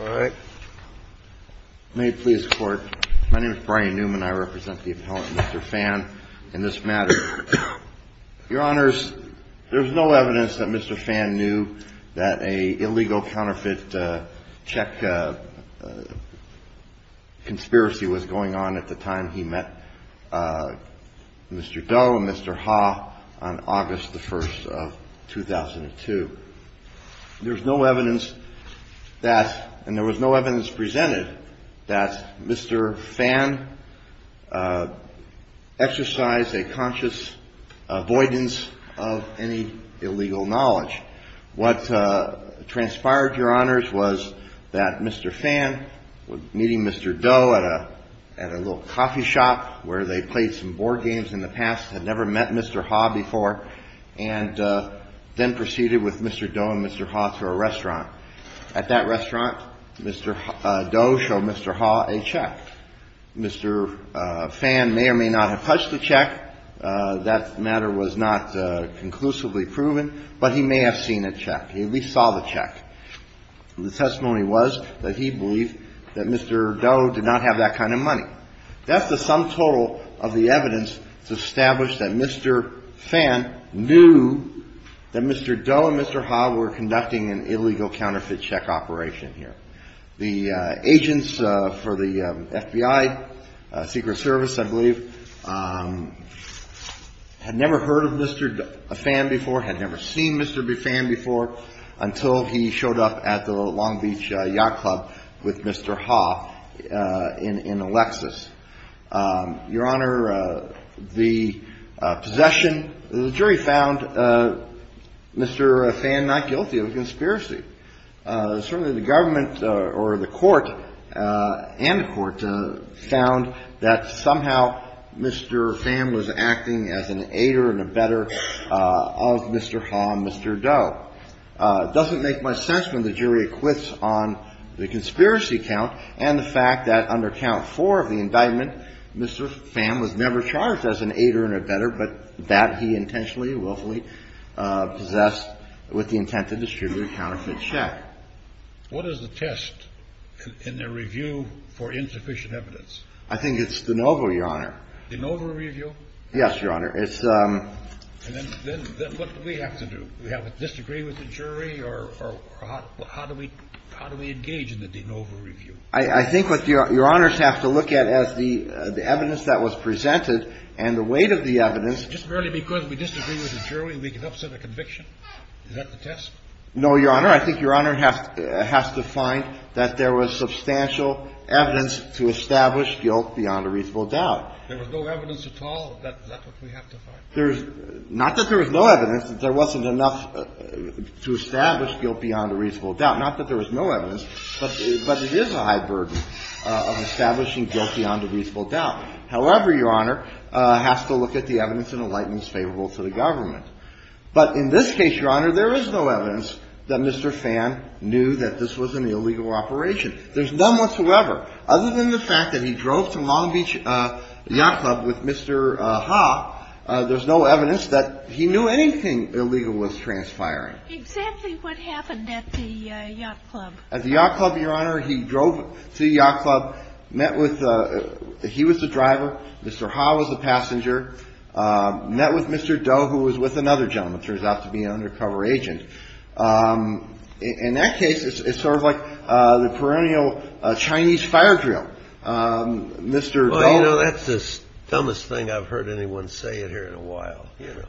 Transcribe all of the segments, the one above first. All right. May it please the court. My name is Brian Newman. I represent the appellant, Mr. Phan, in this matter. Your honors, there's no evidence that Mr. Phan knew that a illegal counterfeit check conspiracy was going on at the time he met Mr. Doe and Mr. Ha on August the 1st of 2002. There's no evidence that, and there was no evidence presented, that Mr. Phan exercised a conscious avoidance of any illegal knowledge. What transpired, your honors, was that Mr. Phan, meeting Mr. Doe at a little coffee shop where they played some board games in the past, had never met Mr. Ha before, and then proceeded with Mr. Doe and Mr. Ha to a restaurant. At that restaurant, Mr. Doe showed Mr. Ha a check. Mr. Phan may or may not have touched the check. That matter was not conclusively proven, but he may have seen a check. He at least saw the check. The testimony was that he believed that Mr. Doe did not have that kind of money. That's the sum total of the evidence to establish that Mr. Phan knew that Mr. Doe and Mr. Ha were conducting an illegal counterfeit check operation here. The agents for the FBI Secret Service, I believe, had never heard of Mr. Phan before, had never seen Mr. Phan before, until he showed up at the Long Beach Yacht Club with Mr. Ha in Alexis. Your honor, the possession, the jury found Mr. Phan not guilty of conspiracy. Certainly the government or the court and the court found that somehow Mr. Phan was acting as an aider and abetter of Mr. Ha and Mr. Doe. It doesn't make much sense when the jury acquits on the conspiracy count and the fact that under count four of the indictment, Mr. Phan was never charged as an aider and abetter, but that he intentionally and willfully possessed with the intent to distribute a counterfeit check. What is the test in the review for insufficient evidence? I think it's de novo, your honor. De novo review? Yes, your honor. And then what do we have to do? We have to disagree with the jury or how do we engage in the de novo review? I think what your honors have to look at as the evidence that was presented and the weight of the evidence. Just merely because we disagree with the jury, we can upset a conviction? Is that the test? No, your honor. I think your honor has to find that there was substantial evidence to establish guilt beyond a reasonable doubt. There was no evidence at all? Is that what we have to find? Not that there was no evidence. There wasn't enough to establish guilt beyond a reasonable doubt. Not that there was no evidence, but it is a high burden of establishing guilt beyond a reasonable doubt. However, your honor, has to look at the evidence in the light that's favorable to the government. But in this case, your honor, there is no evidence that Mr. Phan knew that this was an illegal operation. There's none whatsoever, other than the fact that he drove to Long Beach Yacht Club with Mr. Ha. There's no evidence that he knew anything illegal was transpiring. Exactly what happened at the Yacht Club? At the Yacht Club, your honor, he drove to the Yacht Club, met with, he was the driver, Mr. Ha was the passenger, met with Mr. Doe, who was with another gentleman, turns out to be an undercover agent. In that case, it's sort of like the perennial Chinese fire drill. Well, you know, that's the dumbest thing I've heard anyone say in here in a while, you know.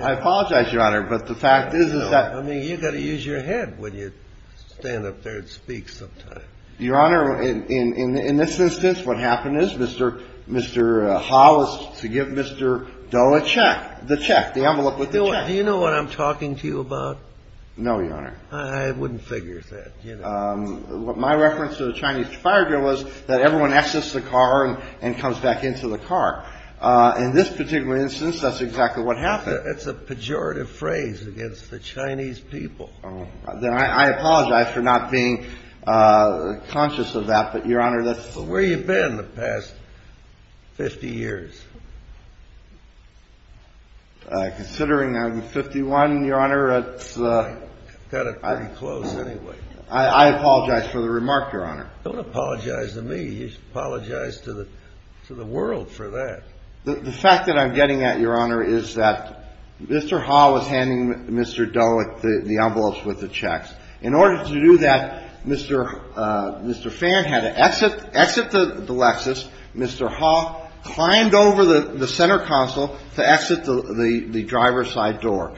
I apologize, your honor, but the fact is that... I mean, you've got to use your head when you stand up there and speak sometimes. Your honor, in this instance, what happened is Mr. Ha was to give Mr. Doe a check, the check, the envelope with the check. Do you know what I'm talking to you about? No, your honor. I wouldn't figure that. My reference to the Chinese fire drill was that everyone exits the car and comes back into the car. In this particular instance, that's exactly what happened. It's a pejorative phrase against the Chinese people. I apologize for not being conscious of that, but your honor, that's... Where have you been in the past 50 years? Considering I'm 51, your honor, it's... Got it pretty close anyway. I apologize for the remark, your honor. Don't apologize to me. You should apologize to the world for that. The fact that I'm getting at, your honor, is that Mr. Ha was handing Mr. Doe the envelopes with the checks. In order to do that, Mr. Fan had to exit the Lexus. Mr. Ha climbed over the center console to exit the driver's side door,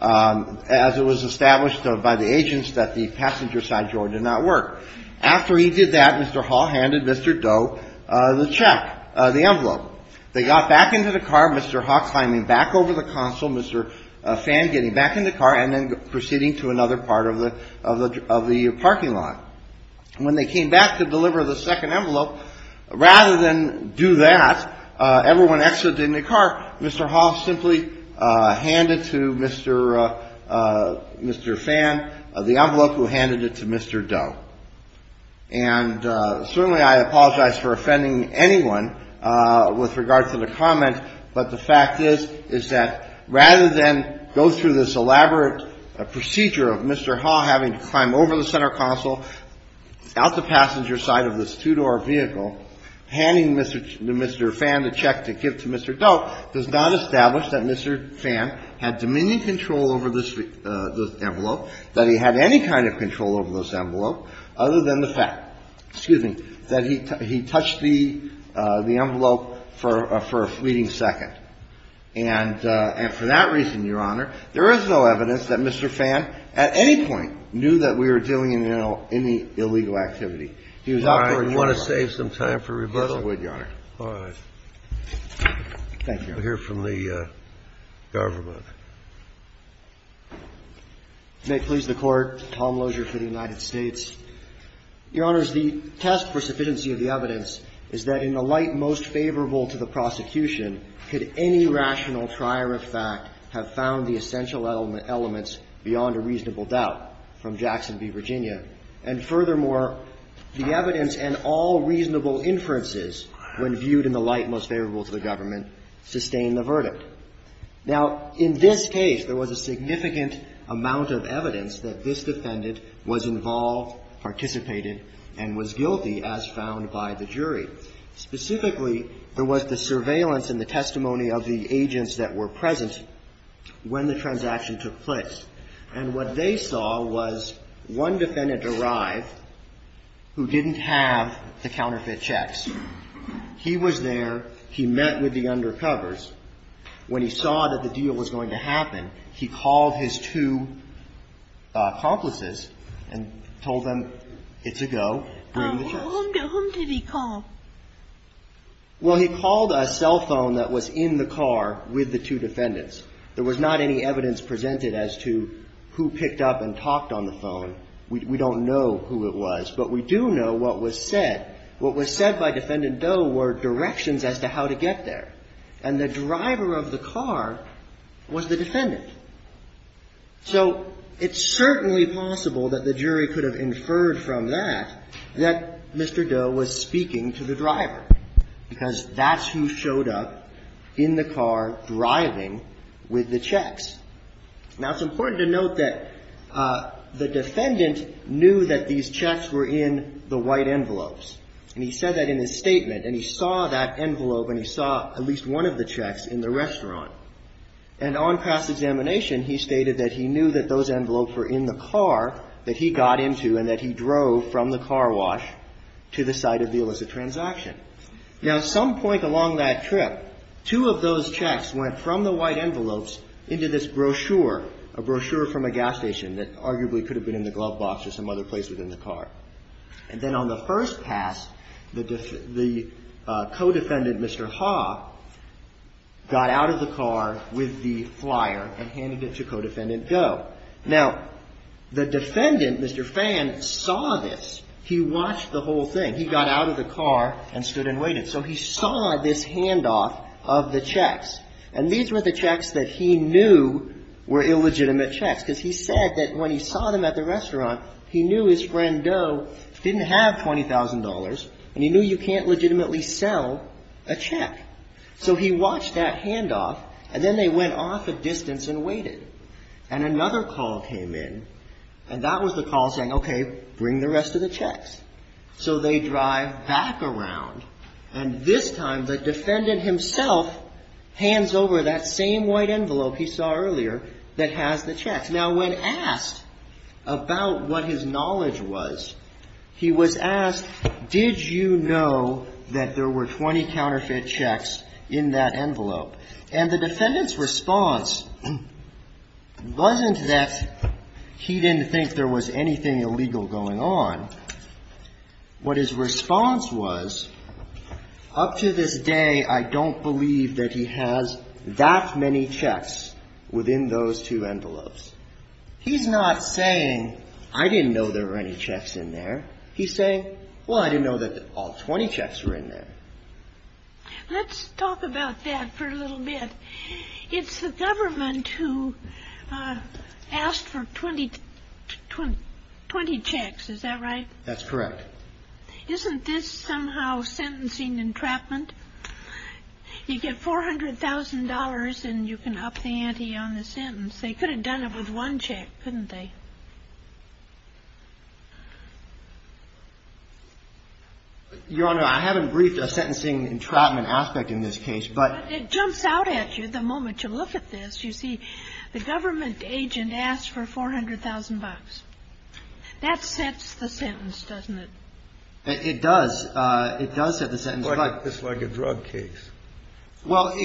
as it was established by the agents that the passenger side door did not work. After he did that, Mr. Ha handed Mr. Doe the check, the envelope. They got back into the car, Mr. Ha climbing back over the console, Mr. Fan getting back in the car, and then proceeding to another part of the parking lot. When they came back to deliver the second envelope, rather than do that, everyone exited in the car. Mr. Ha simply handed to Mr. Fan the envelope, who handed it to Mr. Doe. And certainly I apologize for offending anyone with regard to the comment, but the fact is, is that rather than go through this elaborate procedure of Mr. Ha having to climb over the center console, out the passenger side of this two-door vehicle, handing Mr. Fan the check to give to Mr. Doe, does not establish that Mr. Fan had dominion control over this envelope, that he had any kind of control over this envelope, other than the fact, excuse me, that he touched the envelope for a fleeting second. And for that reason, Your Honor, there is no evidence that Mr. Fan, at any point, knew that we were dealing in the illegal activity. He was out for a short while. You want to save some time for rebuttal? Yes, I would, Your Honor. All right. Thank you. We'll hear from the government. May it please the Court. Tom Lozier for the United States. Your Honors, the test for sufficiency of the evidence is that in the light most favorable to the prosecution, could any rational trier of fact have found the essential elements beyond a reasonable doubt? From Jackson v. Virginia. And furthermore, the evidence and all reasonable inferences, when viewed in the light most favorable to the government, sustain the verdict. Now, in this case, there was a significant amount of evidence that this defendant was involved, participated, and was guilty, as found by the jury. Specifically, there was the surveillance and the testimony of the agents that were present when the transaction took place. And what they saw was one defendant arrive who didn't have the counterfeit checks. He was there. He met with the undercovers. When he saw that the deal was going to happen, he called his two accomplices and told them it's a go, bring the checks. So whom did he call? Well, he called a cell phone that was in the car with the two defendants. There was not any evidence presented as to who picked up and talked on the phone. We don't know who it was. But we do know what was said. What was said by Defendant Doe were directions as to how to get there. And the driver of the car was the defendant. So it's certainly possible that the jury could have inferred from that that Mr. Doe was speaking to the driver, because that's who showed up in the car driving with the checks. Now, it's important to note that the defendant knew that these checks were in the white envelopes. And he said that in his statement. And he saw that envelope, and he saw at least one of the checks in the restaurant. And on past examination, he stated that he knew that those envelopes were in the car that he got into and that he drove from the car wash to the site of the illicit transaction. Now, at some point along that trip, two of those checks went from the white envelopes into this brochure, a brochure from a gas station that arguably could have been in the glove box or some other place within the car. And then on the first pass, the co-defendant, Mr. Ha, got out of the car and went into the car with the flyer and handed it to co-defendant Doe. Now, the defendant, Mr. Fan, saw this. He watched the whole thing. He got out of the car and stood and waited. So he saw this handoff of the checks. And these were the checks that he knew were illegitimate checks, because he said that when he saw them at the restaurant, he knew his friend Doe didn't have $20,000, and he knew you can't legitimately sell a check. So he watched that handoff, and then they went off a distance and waited. And another call came in, and that was the call saying, okay, bring the rest of the checks. So they drive back around, and this time the defendant himself hands over that same white envelope he saw earlier that has the checks. Now, when asked about what his knowledge was, he was asked, did you know that there were 20 counterfeit checks in that envelope? And the defendant's response wasn't that he didn't think there was anything illegal going on. What his response was, up to this day, I don't believe that he has that many checks within those two envelopes. He's not saying, I didn't know there were any checks in there. He's saying, well, I didn't know that all 20 checks were in there. Let's talk about that for a little bit. It's the government who asked for 20 checks, is that right? That's correct. Isn't this somehow sentencing entrapment? You get $400,000, and you can up the ante on the sentence. They could have done it with one check, couldn't they? Your Honor, I haven't briefed a sentencing entrapment aspect in this case. But it jumps out at you the moment you look at this. You see, the government agent asked for $400,000. That sets the sentence, doesn't it? It does. It does set the sentence. It's like a drug case. Well,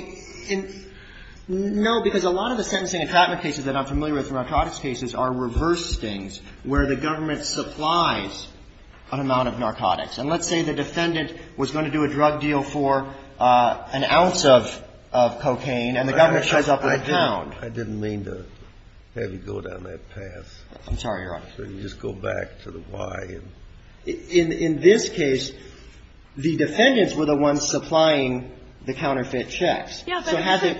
no, because a lot of the sentencing entrapment cases that I'm familiar with in narcotics cases are reverse things where the government supplies an amount of narcotics. And let's say the defendant was going to do a drug deal for an ounce of cocaine, and the government tries to up the count. I didn't mean to have you go down that path. I'm sorry, Your Honor. So you just go back to the why. In this case, the defendants were the ones supplying the counterfeit checks. So had they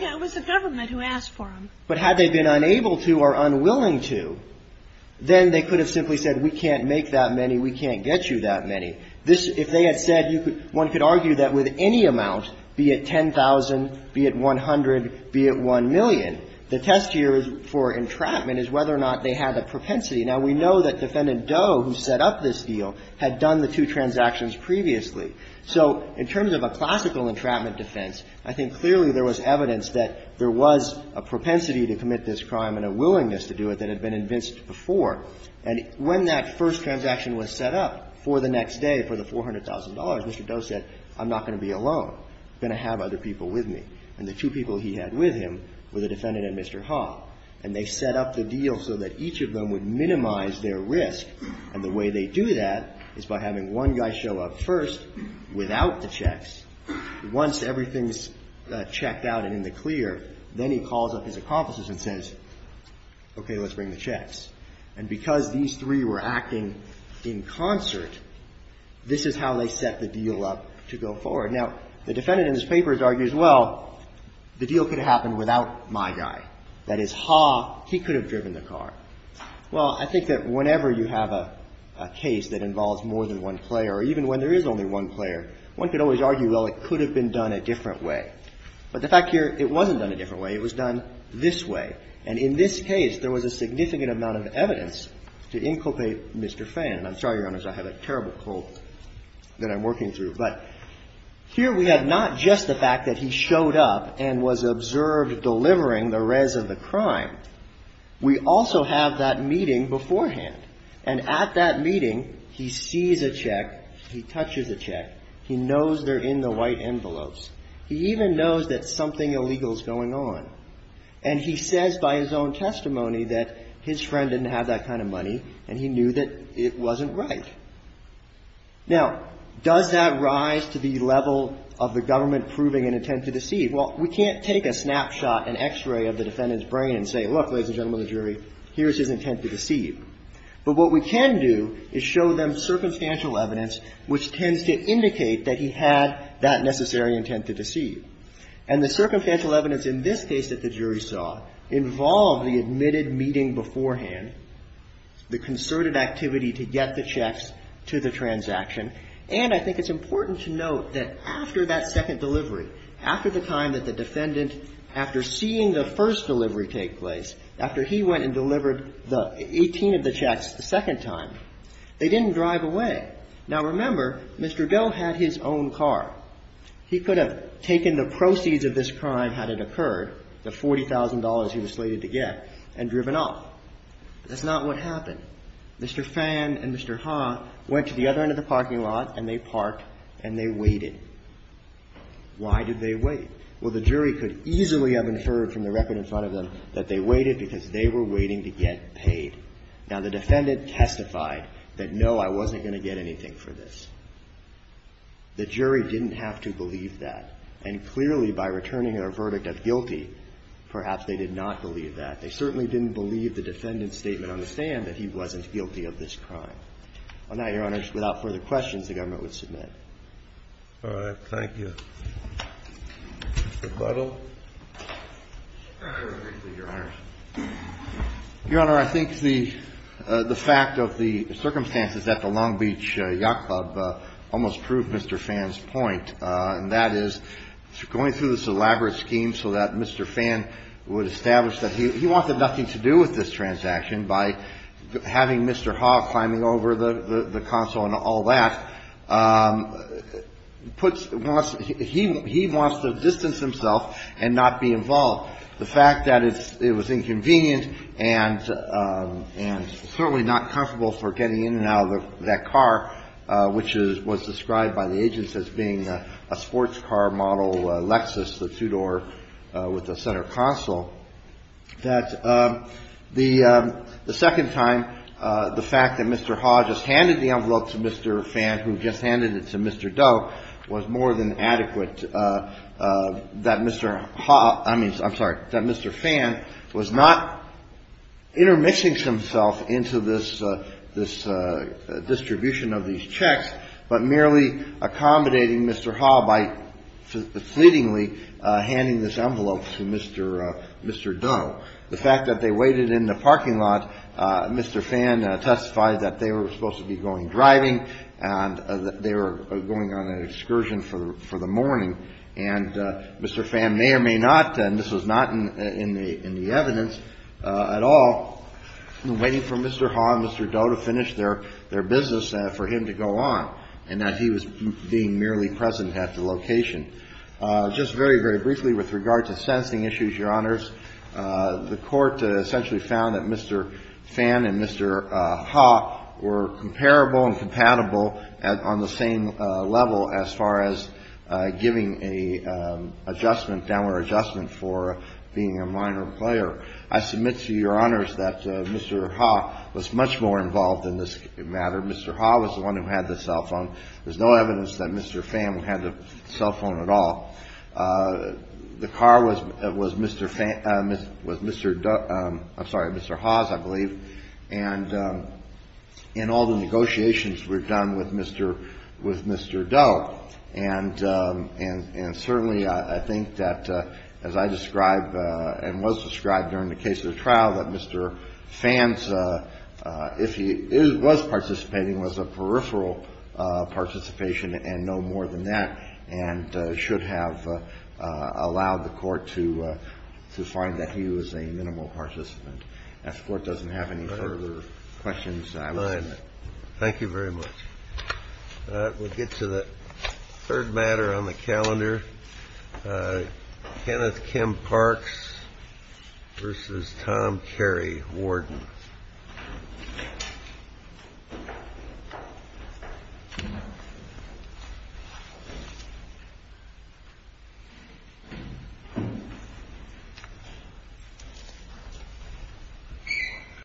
been unable to or unwilling to, then they could have simply said we can't make that many, we can't get you that many. This, if they had said you could, one could argue that with any amount, be it $10,000, be it $100,000, be it $1,000,000, the test here for entrapment is whether or not they had a propensity. Now, we know that Defendant Doe, who set up this deal, had done the two transactions previously. So in terms of a classical entrapment defense, I think clearly there was evidence that there was a propensity to commit this crime and a willingness to do it that had been invinced before. And when that first transaction was set up for the next day for the $400,000, Mr. Doe said I'm not going to be alone. I'm going to have other people with me. And the two people he had with him were the defendant and Mr. Ha. And they set up the deal so that each of them would minimize their risk. And the way they do that is by having one guy show up first without the checks. Once everything's checked out and in the clear, then he calls up his accomplices and says, okay, let's bring the checks. And because these three were acting in concert, this is how they set the deal up to go forward. Now, the defendant in this paper argues, well, the deal could have happened without my guy. That is, Ha, he could have driven the car. Well, I think that whenever you have a case that involves more than one player, or even when there is only one player, one could always argue, well, it could have been done a different way. But the fact here, it wasn't done a different way. It was done this way. And in this case, there was a significant amount of evidence to inculpate Mr. Fan. I'm sorry, Your Honors, I have a terrible cold that I'm working through. But here we have not just the fact that he showed up and was observed delivering the res of the crime. We also have that meeting beforehand. And at that meeting, he sees a check, he touches a check. He knows they're in the white envelopes. He even knows that something illegal is going on. And he says by his own testimony that his friend didn't have that kind of money and he knew that it wasn't right. Now, does that rise to the level of the government proving an intent to deceive? Well, we can't take a snapshot, an X-ray of the defendant's brain and say, look, ladies and gentlemen of the jury, here's his intent to deceive. But what we can do is show them circumstantial evidence which tends to indicate that he had that necessary intent to deceive. And the circumstantial evidence in this case that the jury saw involved the admitted meeting beforehand, the concerted activity to get the checks to the transaction. And I think it's important to note that after that second delivery, after the time that the defendant, after seeing the first delivery take place, after he went and delivered the 18 of the checks the second time, they didn't drive away. Now, remember, Mr. Doe had his own car. He could have taken the proceeds of this crime had it occurred, the $40,000 he was slated to get, and driven off. That's not what happened. Mr. Phan and Mr. Ha went to the other end of the parking lot and they parked and they waited. Why did they wait? Well, the jury could easily have inferred from the record in front of them that they waited because they were waiting to get paid. Now, the defendant testified that, no, I wasn't going to get anything for this. The jury didn't have to believe that. And clearly, by returning their verdict of guilty, perhaps they did not believe that. They certainly didn't believe the defendant's statement on the stand that he wasn't guilty of this crime. On that, Your Honor, without further questions, the government would submit. All right. Thank you. Mr. Buttle. Your Honor, I think the fact of the circumstances at the Long Beach Yacht Club almost proved Mr. Phan's point, and that is going through this elaborate scheme so that Mr. Phan would establish that he wanted nothing to do with this transaction by having Mr. Ha climbing over the console and all that. He wants to distance himself and not be involved. The fact that it was inconvenient and certainly not comfortable for getting in and out of that car, which was described by the agents as being a sports car model Lexus, the two-door with a center console, that the second time, the fact that Mr. Ha just handed the envelope to Mr. Phan, who just handed it to Mr. Doe, was more than adequate. That Mr. Ha, I mean, I'm sorry, that Mr. Phan was not intermixing himself into this distribution of these checks, but merely accommodating Mr. Ha by fleetingly handing this envelope to Mr. Doe. The fact that they waited in the parking lot, Mr. Phan testified that they were supposed to be going driving and that they were going on an excursion for the morning, and Mr. Phan may or may not, and this was not in the evidence at all, waiting for Mr. Ha and Mr. Doe to finish their business for him to go on, and that he was being merely present at the location. Just very, very briefly with regard to sensing issues, Your Honors, the Court essentially found that Mr. Phan and Mr. Ha were comparable and compatible on the same level as far as giving a adjustment, downward adjustment, for being a minor player. I submit to Your Honors that Mr. Ha was much more involved in this matter. Mr. Ha was the one who had the cell phone. There's no evidence that Mr. Phan had the cell phone at all. The car was Mr. Phan, was Mr. Doe, I'm sorry, Mr. Ha's, I believe, and in all the negotiations we've done with Mr. Doe, and certainly I think that, as I described and was described during the case of the trial, that Mr. Phan's, if he was participating, was a peripheral participation and no more than that, and should have allowed the Court to find that he was a minimal participant. As the Court doesn't have any further questions, I will end it. Thank you very much. We'll get to the third matter on the calendar. Kenneth Kim Parks v. Tom Carey, Warden.